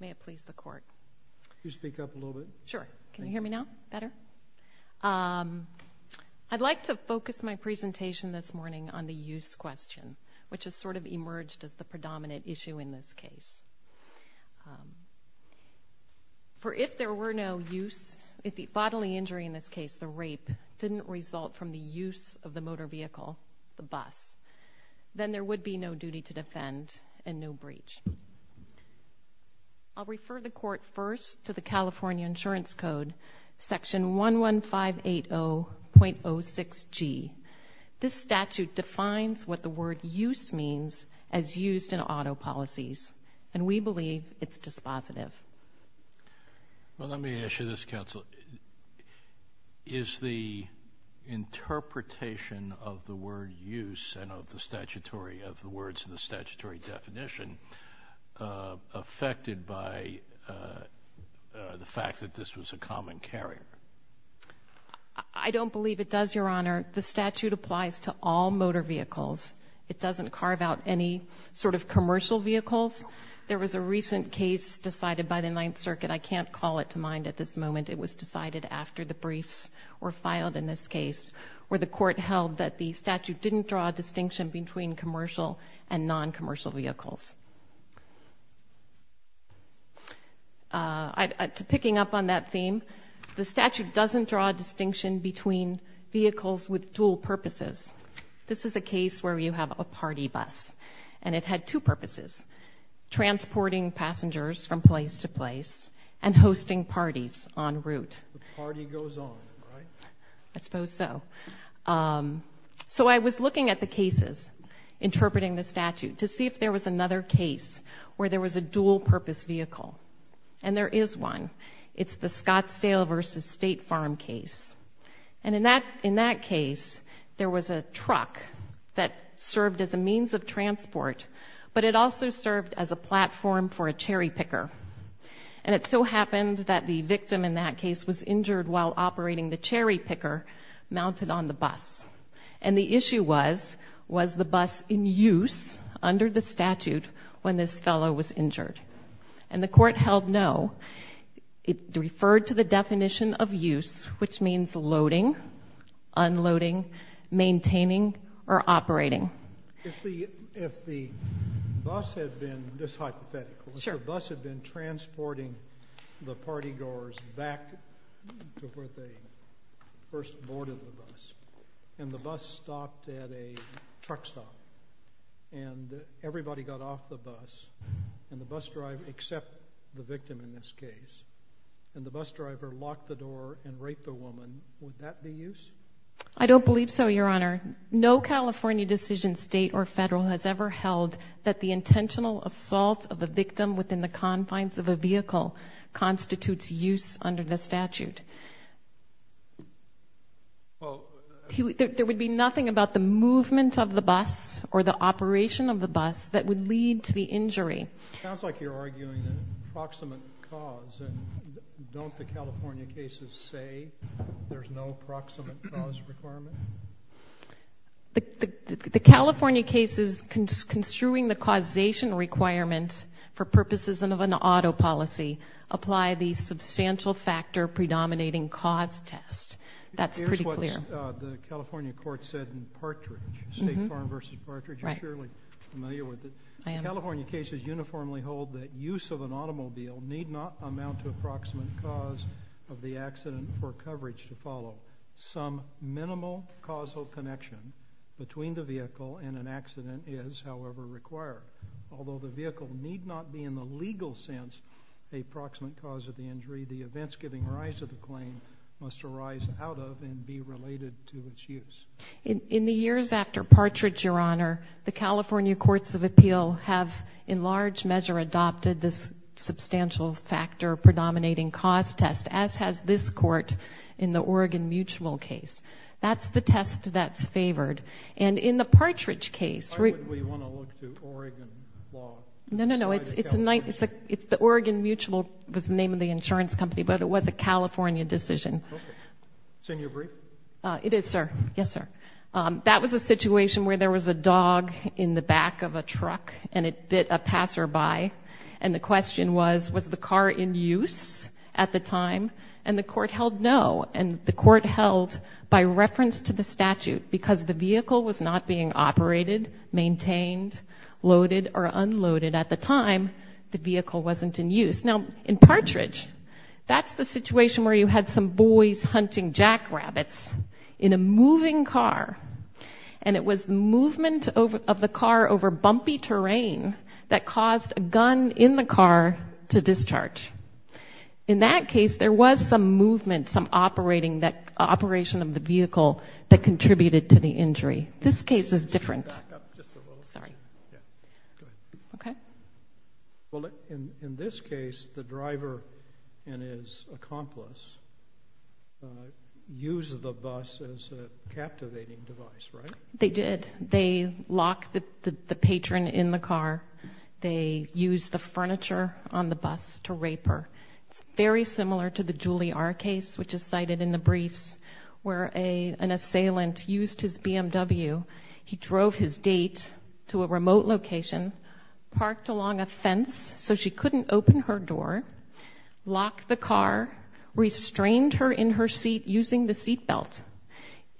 May it please the Court. I'd like to focus my presentation this morning on the use question, which has sort of emerged as the predominant issue in this case. For if there were no use, if the bodily injury in this case, the rape, didn't result from the use of the motor vehicle, the bus, then there would be no duty to defend and no breach. I'll refer the Court first to the California Insurance Code, Section 11580.06G. This statute defines what the word use means as used in auto policies, and we believe it's dispositive. Well, let me ask you this, Counsel. Is the interpretation of the word use and of the statutory, of the words in the statutory definition, affected by the fact that this was a common carrier? I don't believe it does, Your Honor. The statute applies to all motor vehicles. It doesn't carve out any sort of commercial vehicles. There was a recent case decided by the Ninth Circuit. I can't call it to mind at this moment. It was decided after the briefs were filed in this case, where the Court held that the statute didn't draw a distinction between commercial and non-commercial vehicles. Picking up on that theme, the statute doesn't draw a distinction between vehicles with dual purposes. This is a case where you have a party bus, and it had two purposes, transporting passengers from place to place and hosting parties en route. The party goes on, right? I suppose so. So, I was looking at the cases interpreting the statute to see if there was another case where there was a dual-purpose vehicle. And there is one. It's the Scottsdale v. State Farm case. And in that case, there was a truck that served as a means of transport, but it also served as a platform for a cherry picker. And it so happened that the victim in that case was injured while operating the cherry picker on the bus. And the issue was, was the bus in use under the statute when this fellow was injured? And the Court held no. It referred to the definition of use, which means loading, unloading, maintaining, or operating. If the bus had been, just hypothetical, if the bus had been transporting the party goers back to where they first boarded the bus, and the bus stopped at a truck stop, and everybody got off the bus, and the bus driver, except the victim in this case, and the bus driver locked the door and raped the woman, would that be use? I don't believe so, Your Honor. No California decision, state or federal, has ever held that the intentional assault of a victim within the confines of a vehicle constitutes use under the statute. There would be nothing about the movement of the bus, or the operation of the bus, that would lead to the injury. It sounds like you're arguing an approximate cause. And don't the California cases say there's no approximate cause requirement? The California cases construing the causation requirement for purposes of an auto policy apply the substantial factor predominating cause test. That's pretty clear. Here's what the California court said in Partridge, State Farm v. Partridge, you're surely familiar with it. I am. The California cases uniformly hold that use of an automobile need not amount to approximate cause of the accident for coverage to follow. Some minimal causal connection between the vehicle and an accident is, however, required. Although the vehicle need not be in the legal sense a proximate cause of the injury, the events giving rise to the claim must arise out of and be related to its use. In the years after Partridge, Your Honor, the California courts of appeal have in large measure adopted this substantial factor predominating cause test, as has this court in the Oregon Mutual case. That's the test that's favored. And in the Partridge case- Why would we want to look to Oregon law? No, no, no. It's a nice- It's the Oregon Mutual was the name of the insurance company, but it was a California decision. Okay. So you agree? It is, sir. Yes, sir. That was a situation where there was a dog in the back of a truck and it bit a passerby. And the question was, was the car in use at the time? And the court held no. And the court held, by reference to the statute, because the vehicle was not being operated, maintained, loaded, or unloaded at the time, the vehicle wasn't in use. Now, in Partridge, that's the situation where you had some boys hunting jackrabbits in a moving car. And it was the movement of the car over bumpy terrain that caused a gun in the car to discharge. In that case, there was some movement, some operating, that operation of the vehicle that contributed to the injury. This case is different. Back up just a little. Sorry. Yeah. Go ahead. Okay. Well, in this case, the driver and his accomplice used the bus as a captivating device, right? They did. They locked the patron in the car. They used the furniture on the bus to rape her. It's very similar to the Julie R case, which is cited in the briefs, where an assailant used his BMW. He drove his date to a remote location, parked along a fence so she couldn't open her door, locked the car, restrained her in her seat using the seatbelt,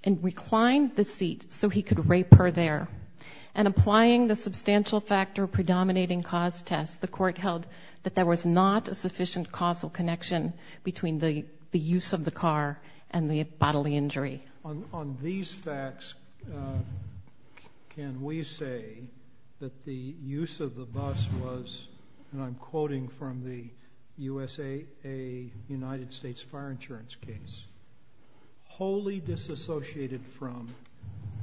and reclined the seat so he could rape her there. And applying the substantial factor predominating cause test, the court held that there was not a sufficient causal connection between the use of the car and the bodily injury. On these facts, can we say that the use of the bus was, and I'm quoting from the USAA United States Fire Insurance case, wholly disassociated from,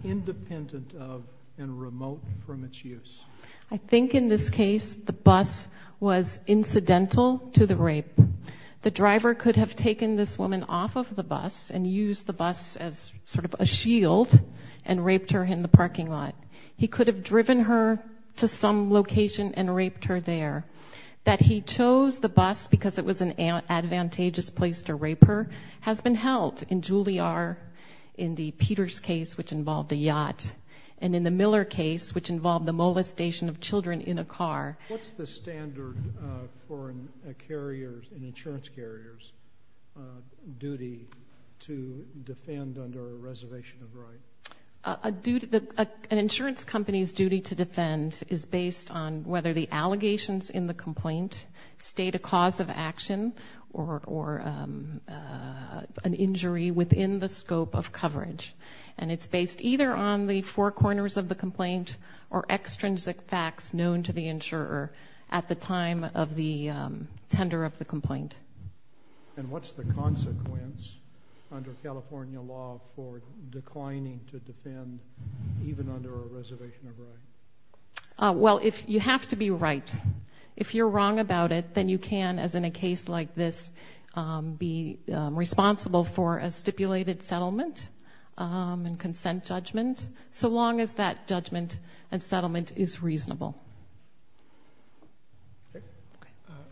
independent of, and remote from its use? I think in this case, the bus was incidental to the rape. The driver could have taken this woman off of the bus and used the bus as sort of a shield and raped her in the parking lot. He could have driven her to some location and raped her there. That he chose the bus because it was an advantageous place to rape her has been held in Julliard in the Peters case, which involved a yacht, and in the Miller case, which involved the molestation of children in a car. What's the standard for an insurance carrier's duty to defend under a reservation of right? An insurance company's duty to defend is based on whether the allegations in the complaint state a cause of action or an injury within the scope of coverage. And it's based either on the four corners of the complaint or extrinsic facts known to the insurer at the time of the tender of the complaint. And what's the consequence under California law for declining to defend even under a reservation of right? Well, you have to be right. If you're wrong about it, then you can, as in a case like this, be responsible for a stipulated settlement and consent judgment, so long as that judgment and settlement is reasonable.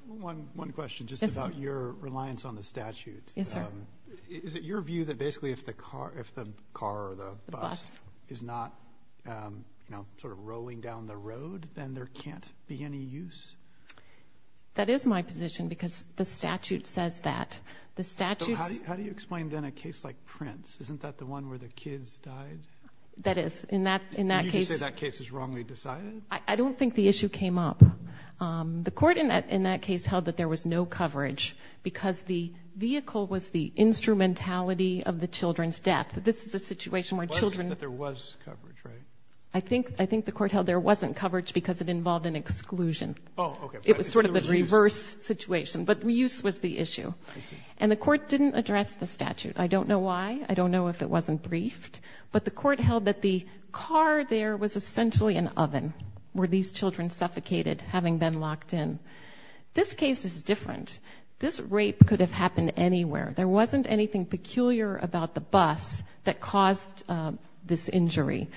One question, just about your reliance on the statute. Is it your view that basically if the car, if the car or the bus is not sort of rolling down the road, then there can't be any use? That is my position because the statute says that. The statute... How do you explain then a case like Prince? Isn't that the one where the kids died? That is. In that case... You just say that case is wrongly decided? I don't think the issue came up. The court in that case held that there was no coverage because the vehicle was the instrumentality of the children's death. This is a situation where children... It wasn't that there was coverage, right? I think the court held there wasn't coverage because it involved an exclusion. It was sort of a reverse situation, but use was the issue. And the court didn't address the statute. I don't know why. I don't know if it wasn't briefed, but the court held that the car there was essentially an oven where these children suffocated, having been locked in. This case is different. This rape could have happened anywhere. There wasn't anything peculiar about the bus that caused this injury.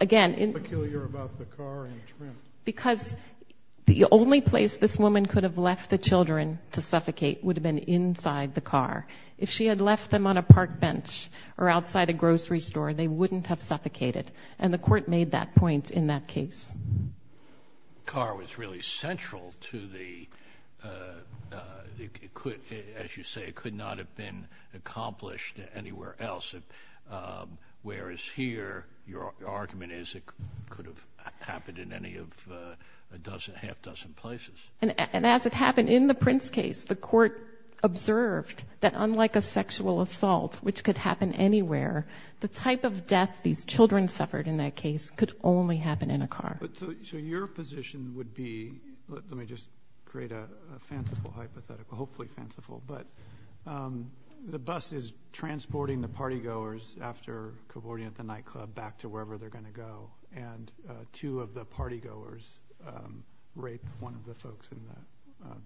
Again... What's peculiar about the car and the trim? Because the only place this woman could have left the children to suffocate would have been inside the car. If she had left them on a park bench or outside a grocery store, they wouldn't have suffocated. And the court made that point in that case. Car was really central to the... As you say, it could not have been accomplished anywhere else. Whereas here, your argument is it could have happened in any of a dozen, half dozen places. And as it happened in the Prince case, the court observed that unlike a sexual assault, which could happen anywhere, the type of death these children suffered in that case could only happen in a car. Your position would be... Let me just create a fanciful hypothetical, hopefully fanciful. The bus is transporting the party goers after cavorting at the nightclub back to wherever they're going to go. And two of the party goers raped one of the folks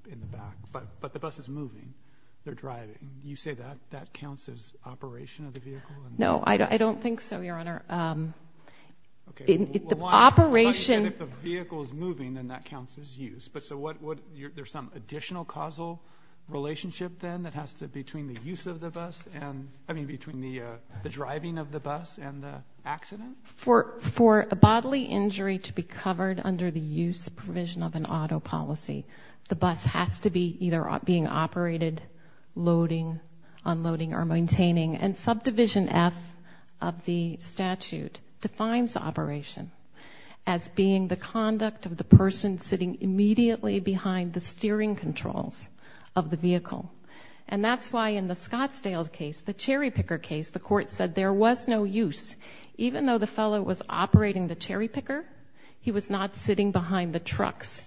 in the back. But the bus is moving. They're driving. You say that counts as operation of the vehicle? No, I don't think so, your honor. The operation... If the vehicle is moving, then that counts as use. But so what... There's some additional causal relationship then that has to be between the use of the bus and... I mean, between the driving of the bus and the accident? For a bodily injury to be covered under the use provision of an auto policy, the bus has to be either being operated, loading, unloading, or maintaining. And subdivision F of the statute defines operation as being the conduct of the person sitting immediately behind the steering controls of the vehicle. And that's why in the Scottsdale case, the cherry picker case, the court said there was no use. Even though the fellow was operating the cherry picker, he was not sitting behind the truck's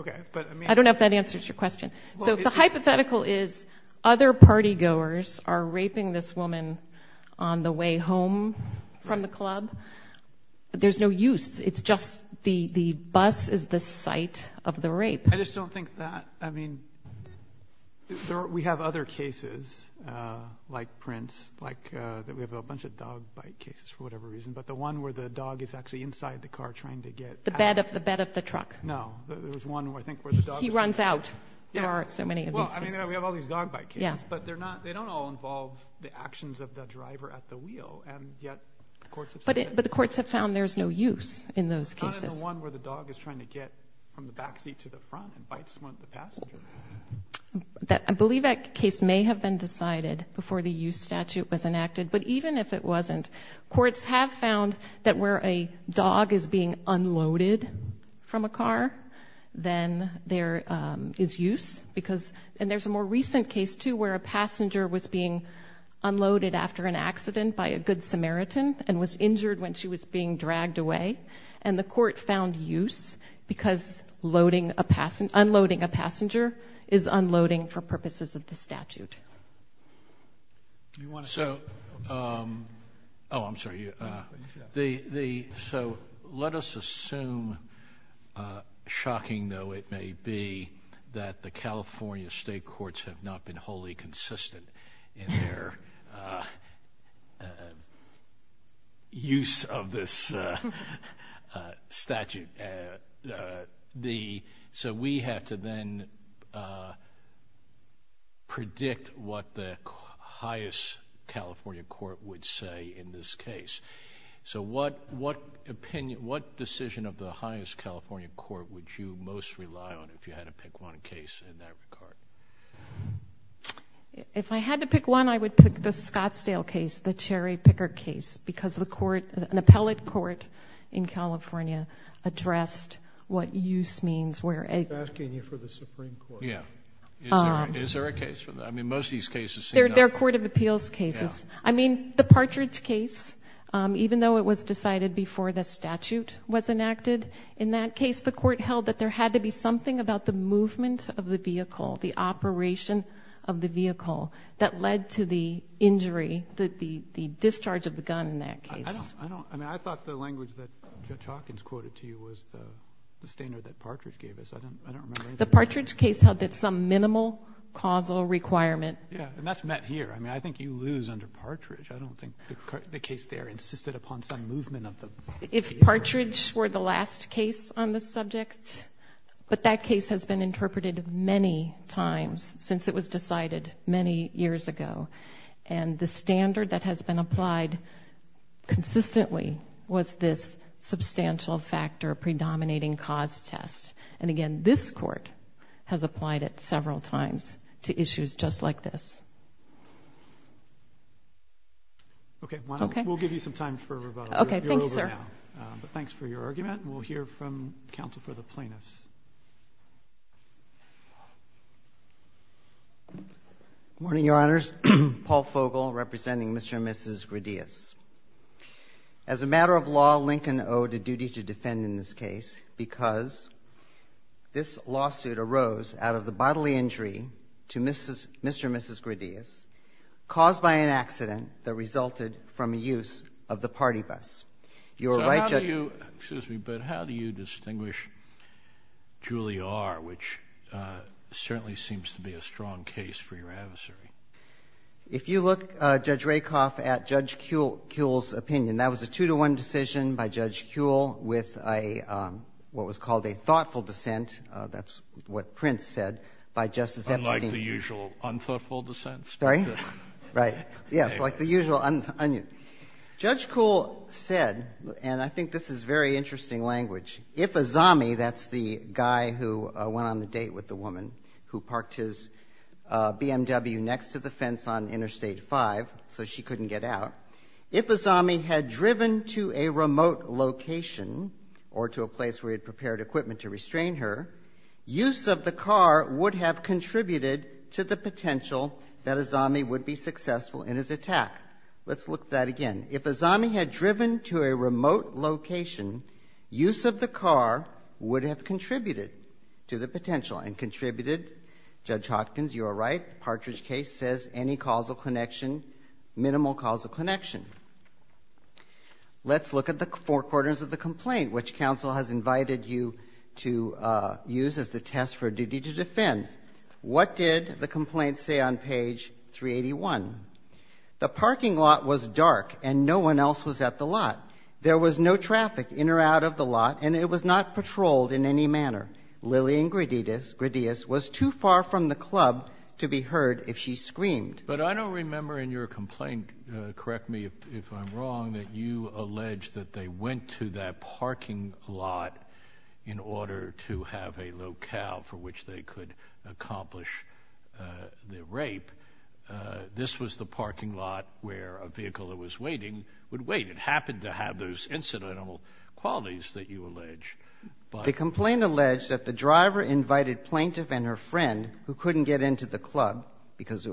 Okay, but I mean... I don't know if that answers your question. So the hypothetical is, other party goers are raping this woman on the way home from the club. There's no use. It's just the bus is the site of the rape. I just don't think that, I mean, we have other cases like Prince, like we have a bunch of dog bite cases for whatever reason, but the one where the dog is actually inside the car trying to get... The bed of the truck. No. There's one where I think where the dog... He runs out. There are so many of these cases. Well, I mean, we have all these dog bite cases, but they don't all involve the actions of the driver at the wheel, and yet the courts have said... But the courts have found there's no use in those cases. Not in the one where the dog is trying to get from the back seat to the front and bites one of the passengers. I believe that case may have been decided before the use statute was enacted, but even if it wasn't, courts have found that where a dog is being unloaded from a car, then there is use because... And there's a more recent case, too, where a passenger was being unloaded after an accident by a good Samaritan and was injured when she was being dragged away, and the court found use because unloading a passenger is unloading for purposes of the statute. You want to say something? Oh, I'm sorry. So let us assume, shocking though it may be, that the California state courts have not been wholly consistent in their use of this statute. So we have to then predict what the highest California court would say in this case. So what decision of the highest California court would you most rely on if you had to pick one case in that regard? If I had to pick one, I would pick the Scottsdale case, the cherry picker case, because an appellate court in California addressed what use means where a... I'm asking you for the Supreme Court. Is there a case for that? I mean, most of these cases... They're court of appeals cases. I mean, the Partridge case, even though it was decided before the statute was enacted, in that case, the court held that there had to be something about the movement of the vehicle, the operation of the vehicle, that led to the injury, the discharge of the gun in that case. I don't... I mean, I thought the language that Judge Hawkins quoted to you was the standard that Partridge gave us. I don't remember... The Partridge case held that some minimal causal requirement... Yeah, and that's met here. I mean, I think you lose under Partridge. I don't think the case there insisted upon some movement of the vehicle. If Partridge were the last case on this subject, but that case has been interpreted many times since it was decided many years ago. And the standard that has been applied consistently was this substantial factor predominating cause test. And again, this court has applied it several times to issues just like this. Okay. Okay. We'll give you some time for rebuttal. Okay. Thank you, sir. You're over now. But thanks for your argument. And we'll hear from counsel for the plaintiffs. Good morning, Your Honors. Paul Fogel representing Mr. and Mrs. Gradius. As a matter of law, Lincoln owed a duty to defend in this case because this lawsuit arose out of the bodily injury to Mr. and Mrs. Gradius caused by an accident that resulted from use of the party bus. Your right judge... If you look, Judge Rakoff, at Judge Kuhl's opinion, that was a two-to-one decision by Judge Kuhl with what was called a thoughtful dissent, that's what Prince said, by Justice Epstein. Unlike the usual unthoughtful dissents? Sorry? Right. Yes. Like the usual... Judge Kuhl said, and I think this is very interesting language, if a zombie, that's the guy who went on the date with the woman who parked his BMW next to the fence on Interstate 5 so she couldn't get out, if a zombie had driven to a remote location or to a place where he had prepared equipment to restrain her, use of the car would have contributed to the potential that a zombie would be successful in his attack. Let's look at that again. If a zombie had driven to a remote location, use of the car would have contributed to the potential and contributed, Judge Hopkins, you are right, Partridge case says any causal connection, minimal causal connection. Let's look at the four quarters of the complaint, which counsel has invited you to use as the test for duty to defend. What did the complaint say on page 381? The parking lot was dark and no one else was at the lot. There was no traffic in or out of the lot and it was not patrolled in any manner. Lillian Gradius was too far from the club to be heard if she screamed. But I don't remember in your complaint, correct me if I'm wrong, that you allege that they went to that parking lot in order to have a locale for which they could accomplish the rape. This was the parking lot where a vehicle that was waiting would wait. It happened to have those incidental qualities that you allege. The complaint alleged that the driver invited plaintiff and her friend, who couldn't get into the club because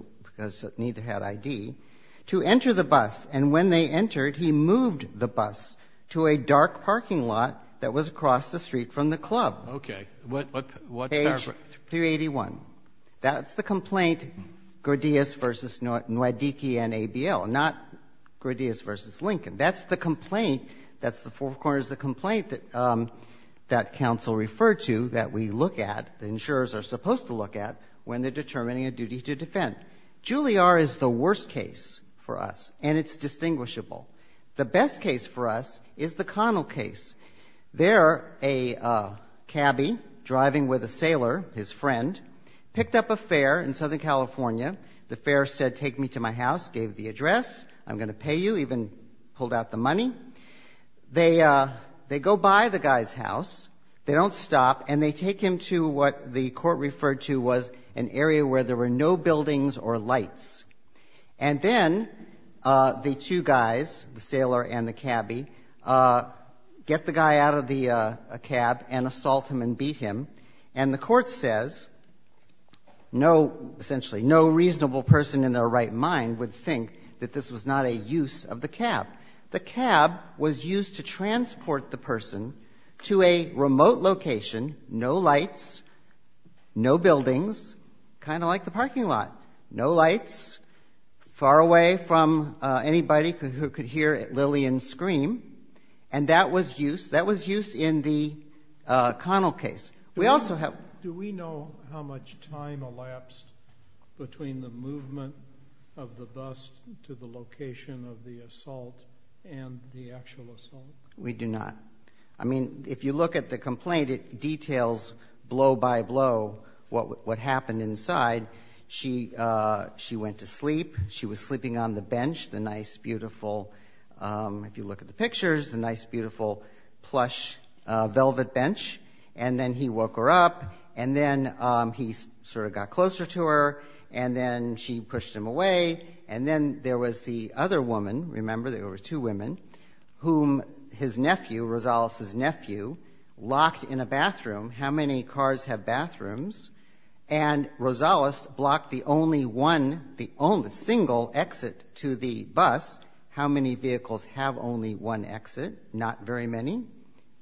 neither had ID, to enter the bus. And when they entered, he moved the bus to a dark parking lot that was across the street from the club. Okay. What paragraph? Page 381. That's the complaint, Gradius v. Nwadiki and ABL, not Gradius v. Lincoln. That's the complaint, that's the four corners of the complaint that counsel referred to that we look at, the insurers are supposed to look at, when they're determining a duty to defend. Julliard is the worst case for us and it's distinguishable. The best case for us is the Connell case. There, a cabbie driving with a sailor, his friend, picked up a fare in Southern California. The fare said, take me to my house, gave the address, I'm going to pay you, even pulled out the money. They go by the guy's house, they don't stop, and they take him to what the court referred to was an area where there were no buildings or lights. And then the two guys, the sailor and the cabbie, get the guy out of the cab and assault him and beat him, and the court says, no, essentially, no reasonable person in their right mind would think that this was not a use of the cab. The cab was used to transport the person to a remote location, no lights, no buildings, kind of like the parking lot. No lights, far away from anybody who could hear Lillian scream. And that was used, that was used in the Connell case. We also have... Do we know how much time elapsed between the movement of the bus to the location of the assault and the actual assault? We do not. I mean, if you look at the complaint, it details blow by blow what happened inside. She went to sleep, she was sleeping on the bench, the nice, beautiful, if you look at the pictures, the nice, beautiful, plush, velvet bench, and then he woke her up, and then he sort of got closer to her, and then she pushed him away, and then there was the nephew, Rosales' nephew, locked in a bathroom. How many cars have bathrooms? And Rosales blocked the only one, the only single exit to the bus. How many vehicles have only one exit? Not very many.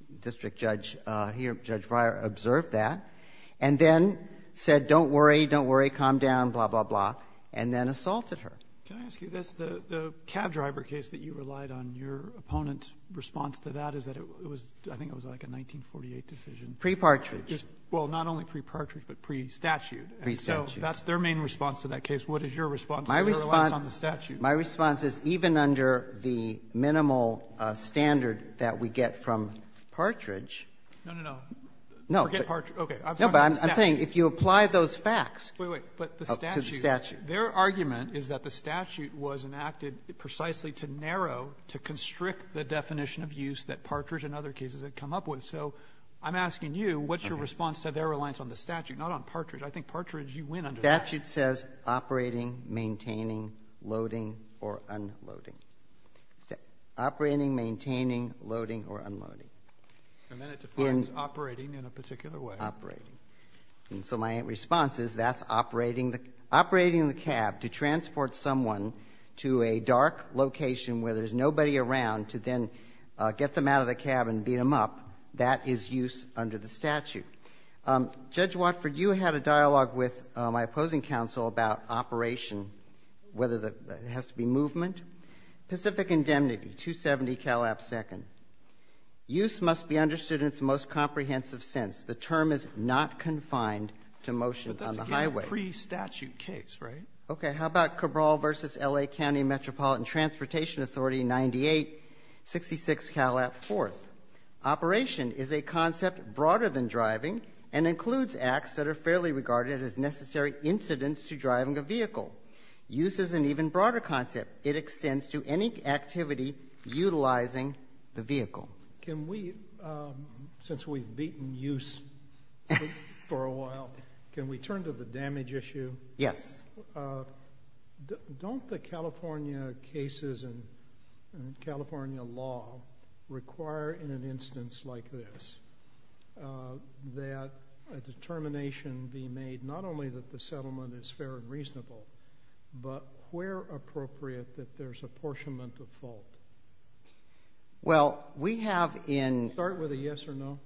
The district judge here, Judge Breyer, observed that. And then said, don't worry, don't worry, calm down, blah, blah, blah, and then assaulted her. Can I ask you this? The cab driver case that you relied on, your opponent's response to that is that it was – I think it was like a 1948 decision. Pre-partridge. Well, not only pre-partridge, but pre-statute. Pre-statute. And so that's their main response to that case. What is your response to their reliance on the statute? My response is even under the minimal standard that we get from partridge – No, no, no. No. Forget partridge. Okay. I'm talking about the statute. No, but I'm saying if you apply those facts – Wait, wait. But the statute – To the statute. Their argument is that the statute was enacted precisely to narrow, to constrict the definition of use that partridge and other cases had come up with. So I'm asking you, what's your response to their reliance on the statute, not on partridge? I think partridge, you win under that. Statute says operating, maintaining, loading, or unloading. Operating, maintaining, loading, or unloading. And then it defines operating in a particular way. Operating. And so my response is that's operating the cab to transport someone to a dark location where there's nobody around to then get them out of the cab and beat them up. That is use under the statute. Judge Watford, you had a dialogue with my opposing counsel about operation, whether that has to be movement. Pacific indemnity, 270 Calab Second. Use must be understood in its most comprehensive sense. The term is not confined to motion on the highway. But that's, again, a pre-statute case, right? Okay. How about Cabral v. L.A. County Metropolitan Transportation Authority, 9866 Calab Fourth? Operation is a concept broader than driving and includes acts that are fairly regarded as necessary incidents to driving a vehicle. Use is an even broader concept. It extends to any activity utilizing the vehicle. Can we, since we've beaten use for a while, can we turn to the damage issue? Yes. Don't the California cases and California law require in an instance like this that a determination be made not only that the settlement is fair and reasonable, but where appropriate that there's apportionment of fault? Well, we have in- Start with a yes or no.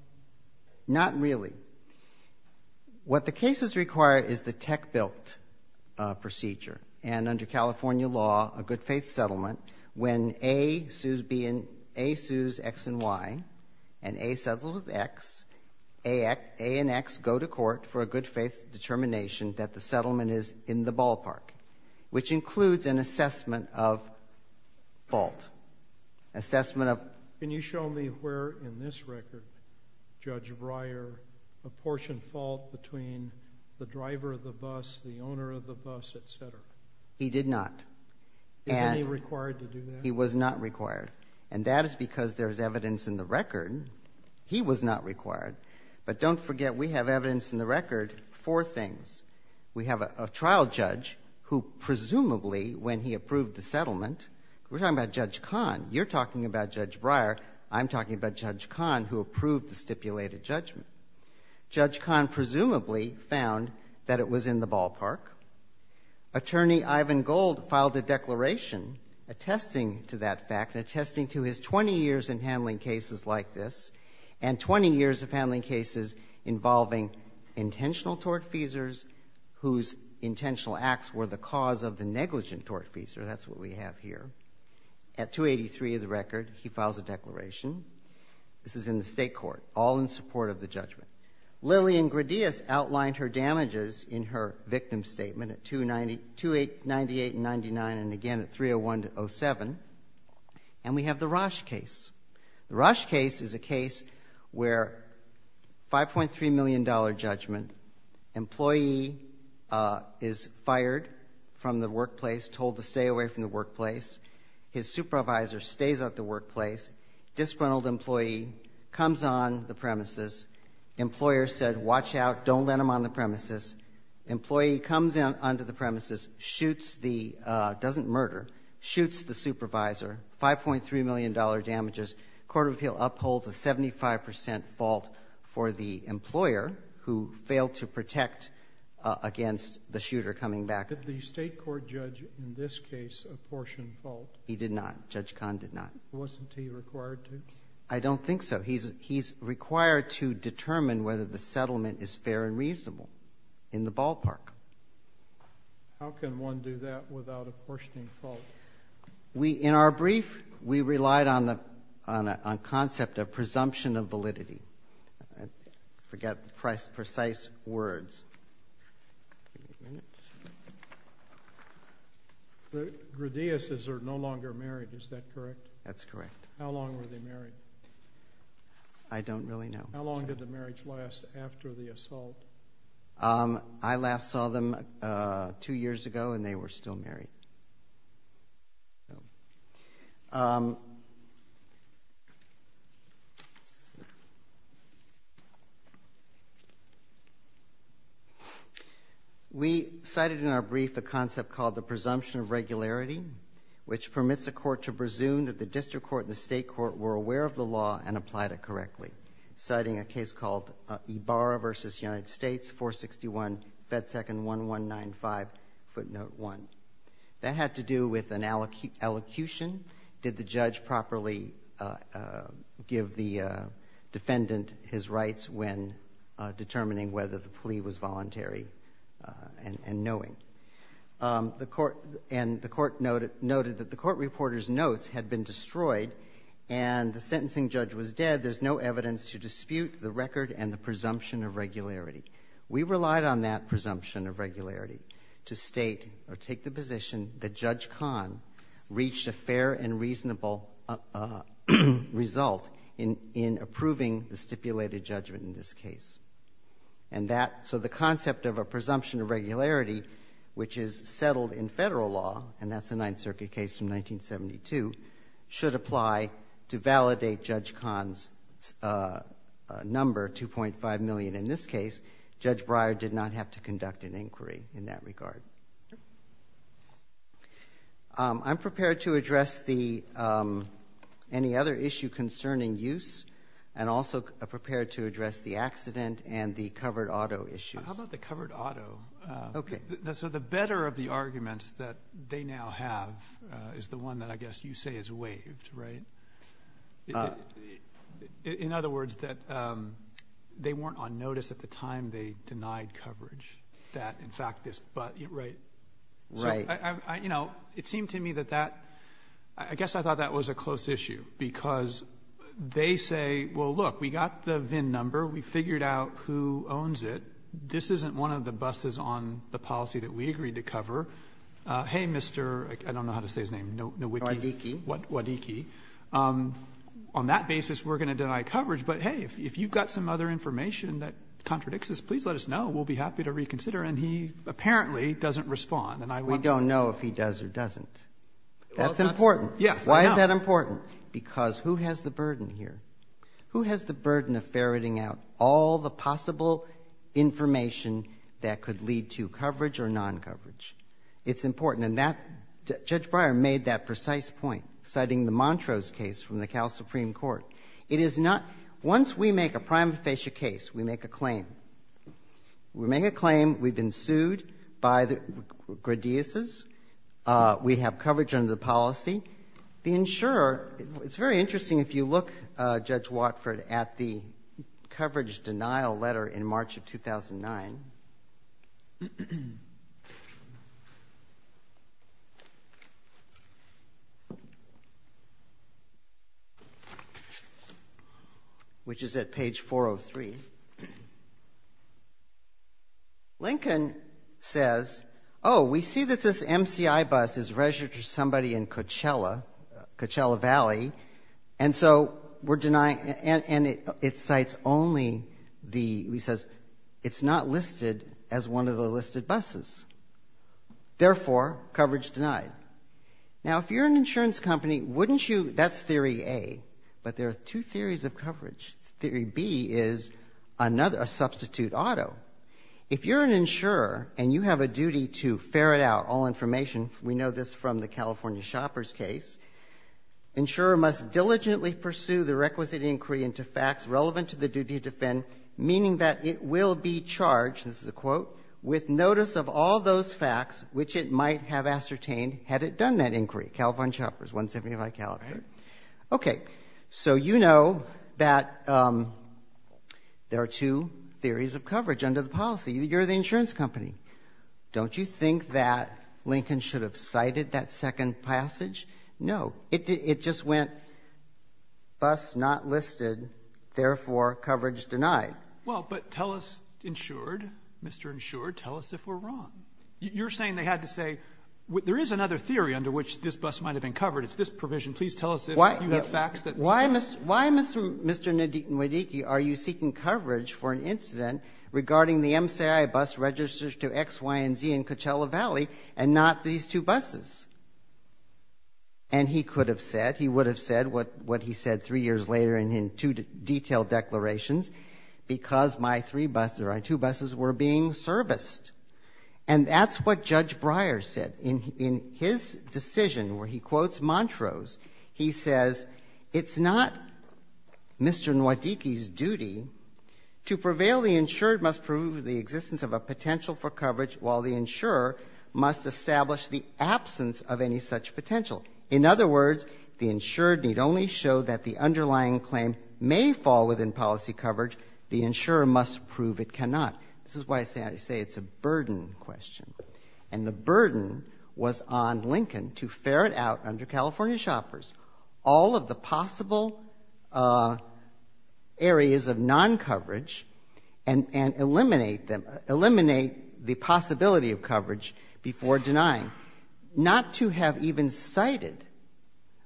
Not really. What the cases require is the tech built procedure. And under California law, a good faith settlement, when A sues X and Y, and A settles with X, A and X go to court for a good faith determination that the settlement is in the ballpark, which assessment of- Can you show me where in this record, Judge Breyer, apportioned fault between the driver of the bus, the owner of the bus, et cetera? He did not. And- Is he required to do that? He was not required. And that is because there's evidence in the record. He was not required. But don't forget, we have evidence in the record for things. We have a trial judge who presumably, when he approved the settlement, we're talking about Judge Kahn. You're talking about Judge Breyer. I'm talking about Judge Kahn, who approved the stipulated judgment. Judge Kahn presumably found that it was in the ballpark. Attorney Ivan Gold filed a declaration attesting to that fact, attesting to his 20 years in handling cases like this, and 20 years of handling cases involving intentional tort feasors, whose intentional acts were the cause of the negligent tort feasor. That's what we have here. At 283 of the record, he files a declaration. This is in the state court, all in support of the judgment. Lillian Gradius outlined her damages in her victim statement at 298 and 99, and again at 301 to 07. And we have the Roche case. The Roche case is a case where $5.3 million judgment, employee is fired from the workplace, told to stay away from the workplace, his supervisor stays at the workplace, disgruntled employee comes on the premises, employer said, watch out, don't let him on the premises. Employee comes onto the premises, doesn't murder, shoots the supervisor, $5.3 million damages. Court of Appeal upholds a 75% fault for the employer, who failed to protect against the shooter coming back. Did the state court judge, in this case, apportion fault? He did not. Judge Kahn did not. Wasn't he required to? I don't think so. He's required to determine whether the settlement is fair and reasonable in the ballpark. How can one do that without apportioning fault? In our brief, we relied on a concept of presumption of validity. I forget the precise words. The Grudillas are no longer married, is that correct? That's correct. How long were they married? I don't really know. How long did the marriage last after the assault? I last saw them two years ago, and they were still married. We cited in our brief a concept called the presumption of regularity, which permits a court to presume that the district court and the state court were aware of the law and applied it correctly, citing a case called Ibarra v. United States, 461 Fed Second 1195, footnote 1. That had to do with an elocution. Did the judge properly give the defendant his rights when determining whether the plea was voluntary and knowing? The court noted that the court reporter's notes had been destroyed, and the sentencing judge was dead. There's no evidence to dispute the record and the presumption of regularity. We relied on that presumption of regularity to state or take the position that Judge Kahn reached a fair and reasonable result in approving the stipulated judgment in this case. So the concept of a presumption of regularity, which is settled in federal law, and that's a Ninth Circuit case from 1972, should apply to validate Judge Kahn's number, 2.5 million. In this case, Judge Breyer did not have to conduct an inquiry in that regard. I'm prepared to address any other issue concerning use and also prepared to address the accident and the covered auto issues. How about the covered auto? Okay. So the better of the arguments that they now have is the one that I guess you say is waived, right? In other words, that they weren't on notice at the time they denied coverage that, in fact, this... Right. Right. So, you know, it seemed to me that that... I guess I thought that was a close issue because they say, well, look, we got the VIN number. We figured out who owns it. This isn't one of the buses on the policy that we agreed to cover. Hey, Mr.... I don't know how to say his name. Nowicki. Nowicki. Nowicki. Nowicki. Nowicki. On that basis, we're going to deny coverage. But, hey, if you've got some other information that contradicts this, please let us know. We'll be happy to reconsider. And he apparently doesn't respond. And I wonder... We don't know if he does or doesn't. That's important. Yes. Why is that important? Because who has the burden here? Who has the burden of ferreting out all the possible information that could lead to coverage or non-coverage? It's important. And Judge Breyer made that precise point, citing the Montrose case from the Cal Supreme Court. It is not... Once we make a prima facie case, we make a claim. We make a claim. We've been sued by the Gradiases. We have coverage under the policy. The insurer... It's very interesting if you look, Judge Watford, at the coverage denial letter in March of 2009. Which is at page 403. Lincoln says, oh, we see that this MCI bus is registered to somebody in Coachella, Coachella Valley. And so we're denying... It cites only the... He says, it's not listed as one of the listed buses. Therefore, coverage denied. Now, if you're an insurance company, wouldn't you... That's theory A. But there are two theories of coverage. Theory B is a substitute auto. If you're an insurer and you have a duty to ferret out all information... We know this from the California shopper's case. Insurer must diligently pursue the requisite inquiry into facts relevant to the duty to defend, meaning that it will be charged... This is a quote.... with notice of all those facts which it might have ascertained had it done that inquiry. California shopper's, 175 California. Okay. So you know that there are two theories of coverage under the policy. You're the insurance company. Don't you think that Lincoln should have cited that second passage? No. It just went, bus not listed. Therefore, coverage denied. Well, but tell us, insured, Mr. Insured, tell us if we're wrong. You're saying they had to say, there is another theory under which this bus might have been covered. It's this provision. Please tell us if you have facts that... Why, Mr. Nwadiki, are you seeking coverage for an incident regarding the MCI bus registered to X, Y, and Z in Coachella Valley and not these two buses? And he could have said, he would have said what he said three years later in two detailed declarations, because my three buses or my two buses were being serviced. And that's what Judge Breyer said. In his decision where he quotes Montrose, he says, it's not Mr. Nwadiki's duty to prevail. The insured must prove the existence of a potential for coverage, while the insurer must establish the absence of any such potential. In other words, the insured need only show that the underlying claim may fall within policy coverage. The insurer must prove it cannot. This is why I say it's a burden question. And the burden was on Lincoln to ferret out under California shoppers all of the eliminate the possibility of coverage before denying. Not to have even cited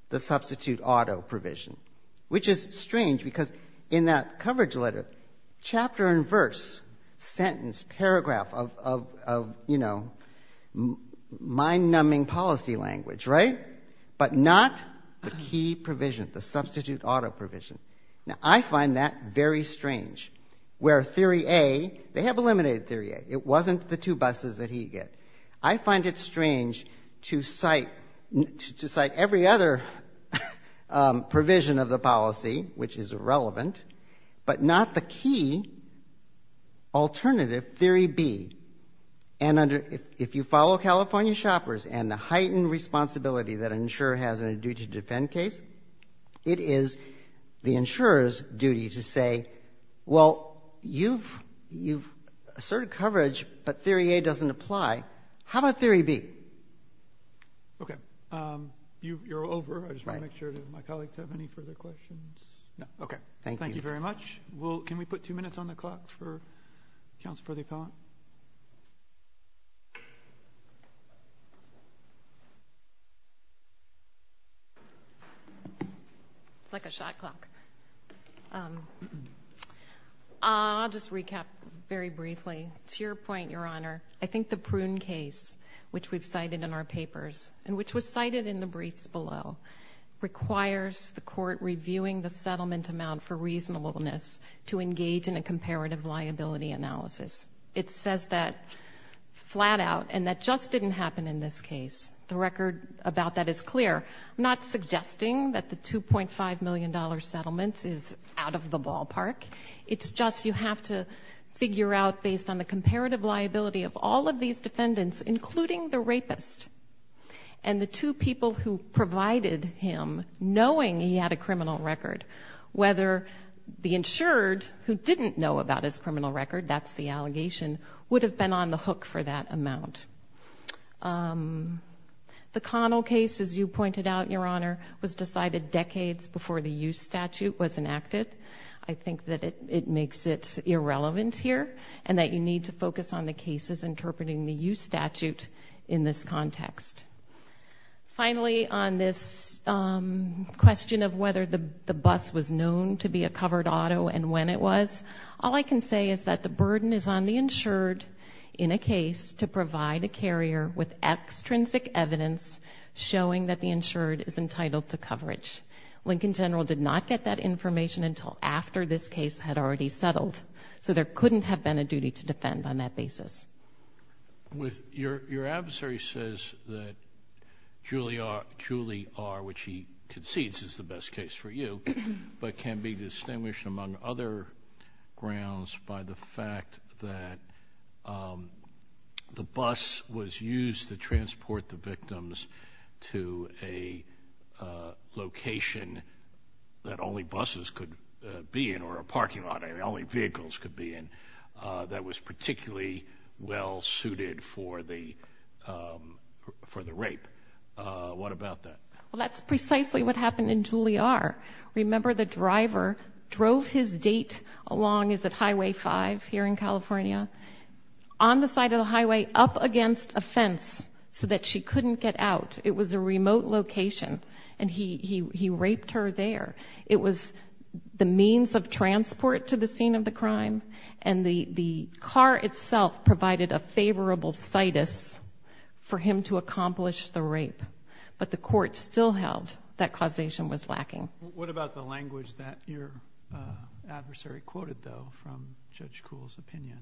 the substitute auto provision, which is strange, because in that coverage letter, chapter and verse, sentence, paragraph of, you know, mind-numbing policy language, right? But not the key provision, the substitute auto provision. Now, I find that very strange, where Theory A, they have eliminated Theory A. It wasn't the two buses that he get. I find it strange to cite every other provision of the policy, which is irrelevant, but not the key alternative, Theory B. And if you follow California shoppers and the heightened responsibility that insurer has in a duty to defend case, it is the insurer's duty to say, well, you've asserted coverage, but Theory A doesn't apply. How about Theory B? Okay. You're over. I just want to make sure that my colleagues have any further questions. Okay. Thank you. Thank you very much. Can we put two minutes on the clock for counsel for the appellant? It's like a shot clock. I'll just recap very briefly. To your point, Your Honor, I think the Prune case, which we've cited in our papers, and which was cited in the briefs below, requires the court reviewing the settlement amount for reasonableness to engage in a comparative liability analysis. It says that flat out, and that just didn't happen in this case. The record about that is clear. I'm not suggesting that the $2.5 million settlement is out of the ballpark. It's just you have to figure out, based on the comparative liability of all of these defendants, including the rapist and the two people who provided him, knowing he had a criminal record. The insured, who didn't know about his criminal record, that's the allegation, would have been on the hook for that amount. The Connell case, as you pointed out, Your Honor, was decided decades before the U statute was enacted. I think that it makes it irrelevant here, and that you need to focus on the cases interpreting the U statute in this context. Finally, on this question of whether the bus was known to be a covered auto and when it was, all I can say is that the burden is on the insured in a case to provide a carrier with extrinsic evidence showing that the insured is entitled to coverage. Lincoln General did not get that information until after this case had already settled, so there couldn't have been a duty to defend on that basis. Your adversary says that Julie R., which he concedes is the best case for you, but can be distinguished among other grounds by the fact that the bus was used to transport the victims to a location that only buses could be in, or a parking lot only vehicles could be in, that was particularly well suited for the rape. What about that? Well, that's precisely what happened in Julie R. Remember the driver drove his date along, is it Highway 5 here in California? On the side of the highway, up against a fence so that she couldn't get out. It was a remote location, and he raped her there. It was the means of transport to the scene of the crime, and the car itself provided a favorable situs for him to accomplish the rape, but the court still held that causation was lacking. What about the language that your adversary quoted, though, from Judge Kuhl's opinion?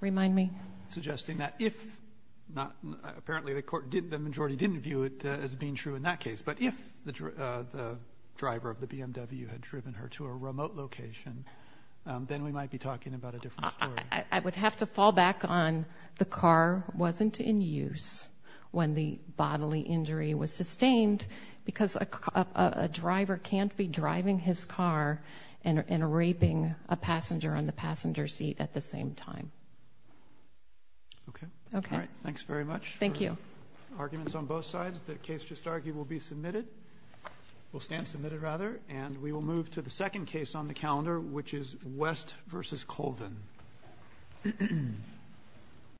Remind me. Suggesting that if, apparently the majority didn't view it as being true in that case, but if the driver of the BMW had driven her to a remote location, then we might be talking about a different story. I would have to fall back on the car wasn't in use when the bodily injury was sustained because a driver can't be driving his car and raping a passenger on the passenger seat at the same time. Okay. Okay. All right. Thanks very much. Thank you. We have arguments on both sides. The case just argued will be submitted. Will stand submitted, rather, and we will move to the second case on the calendar, which is West versus Colvin.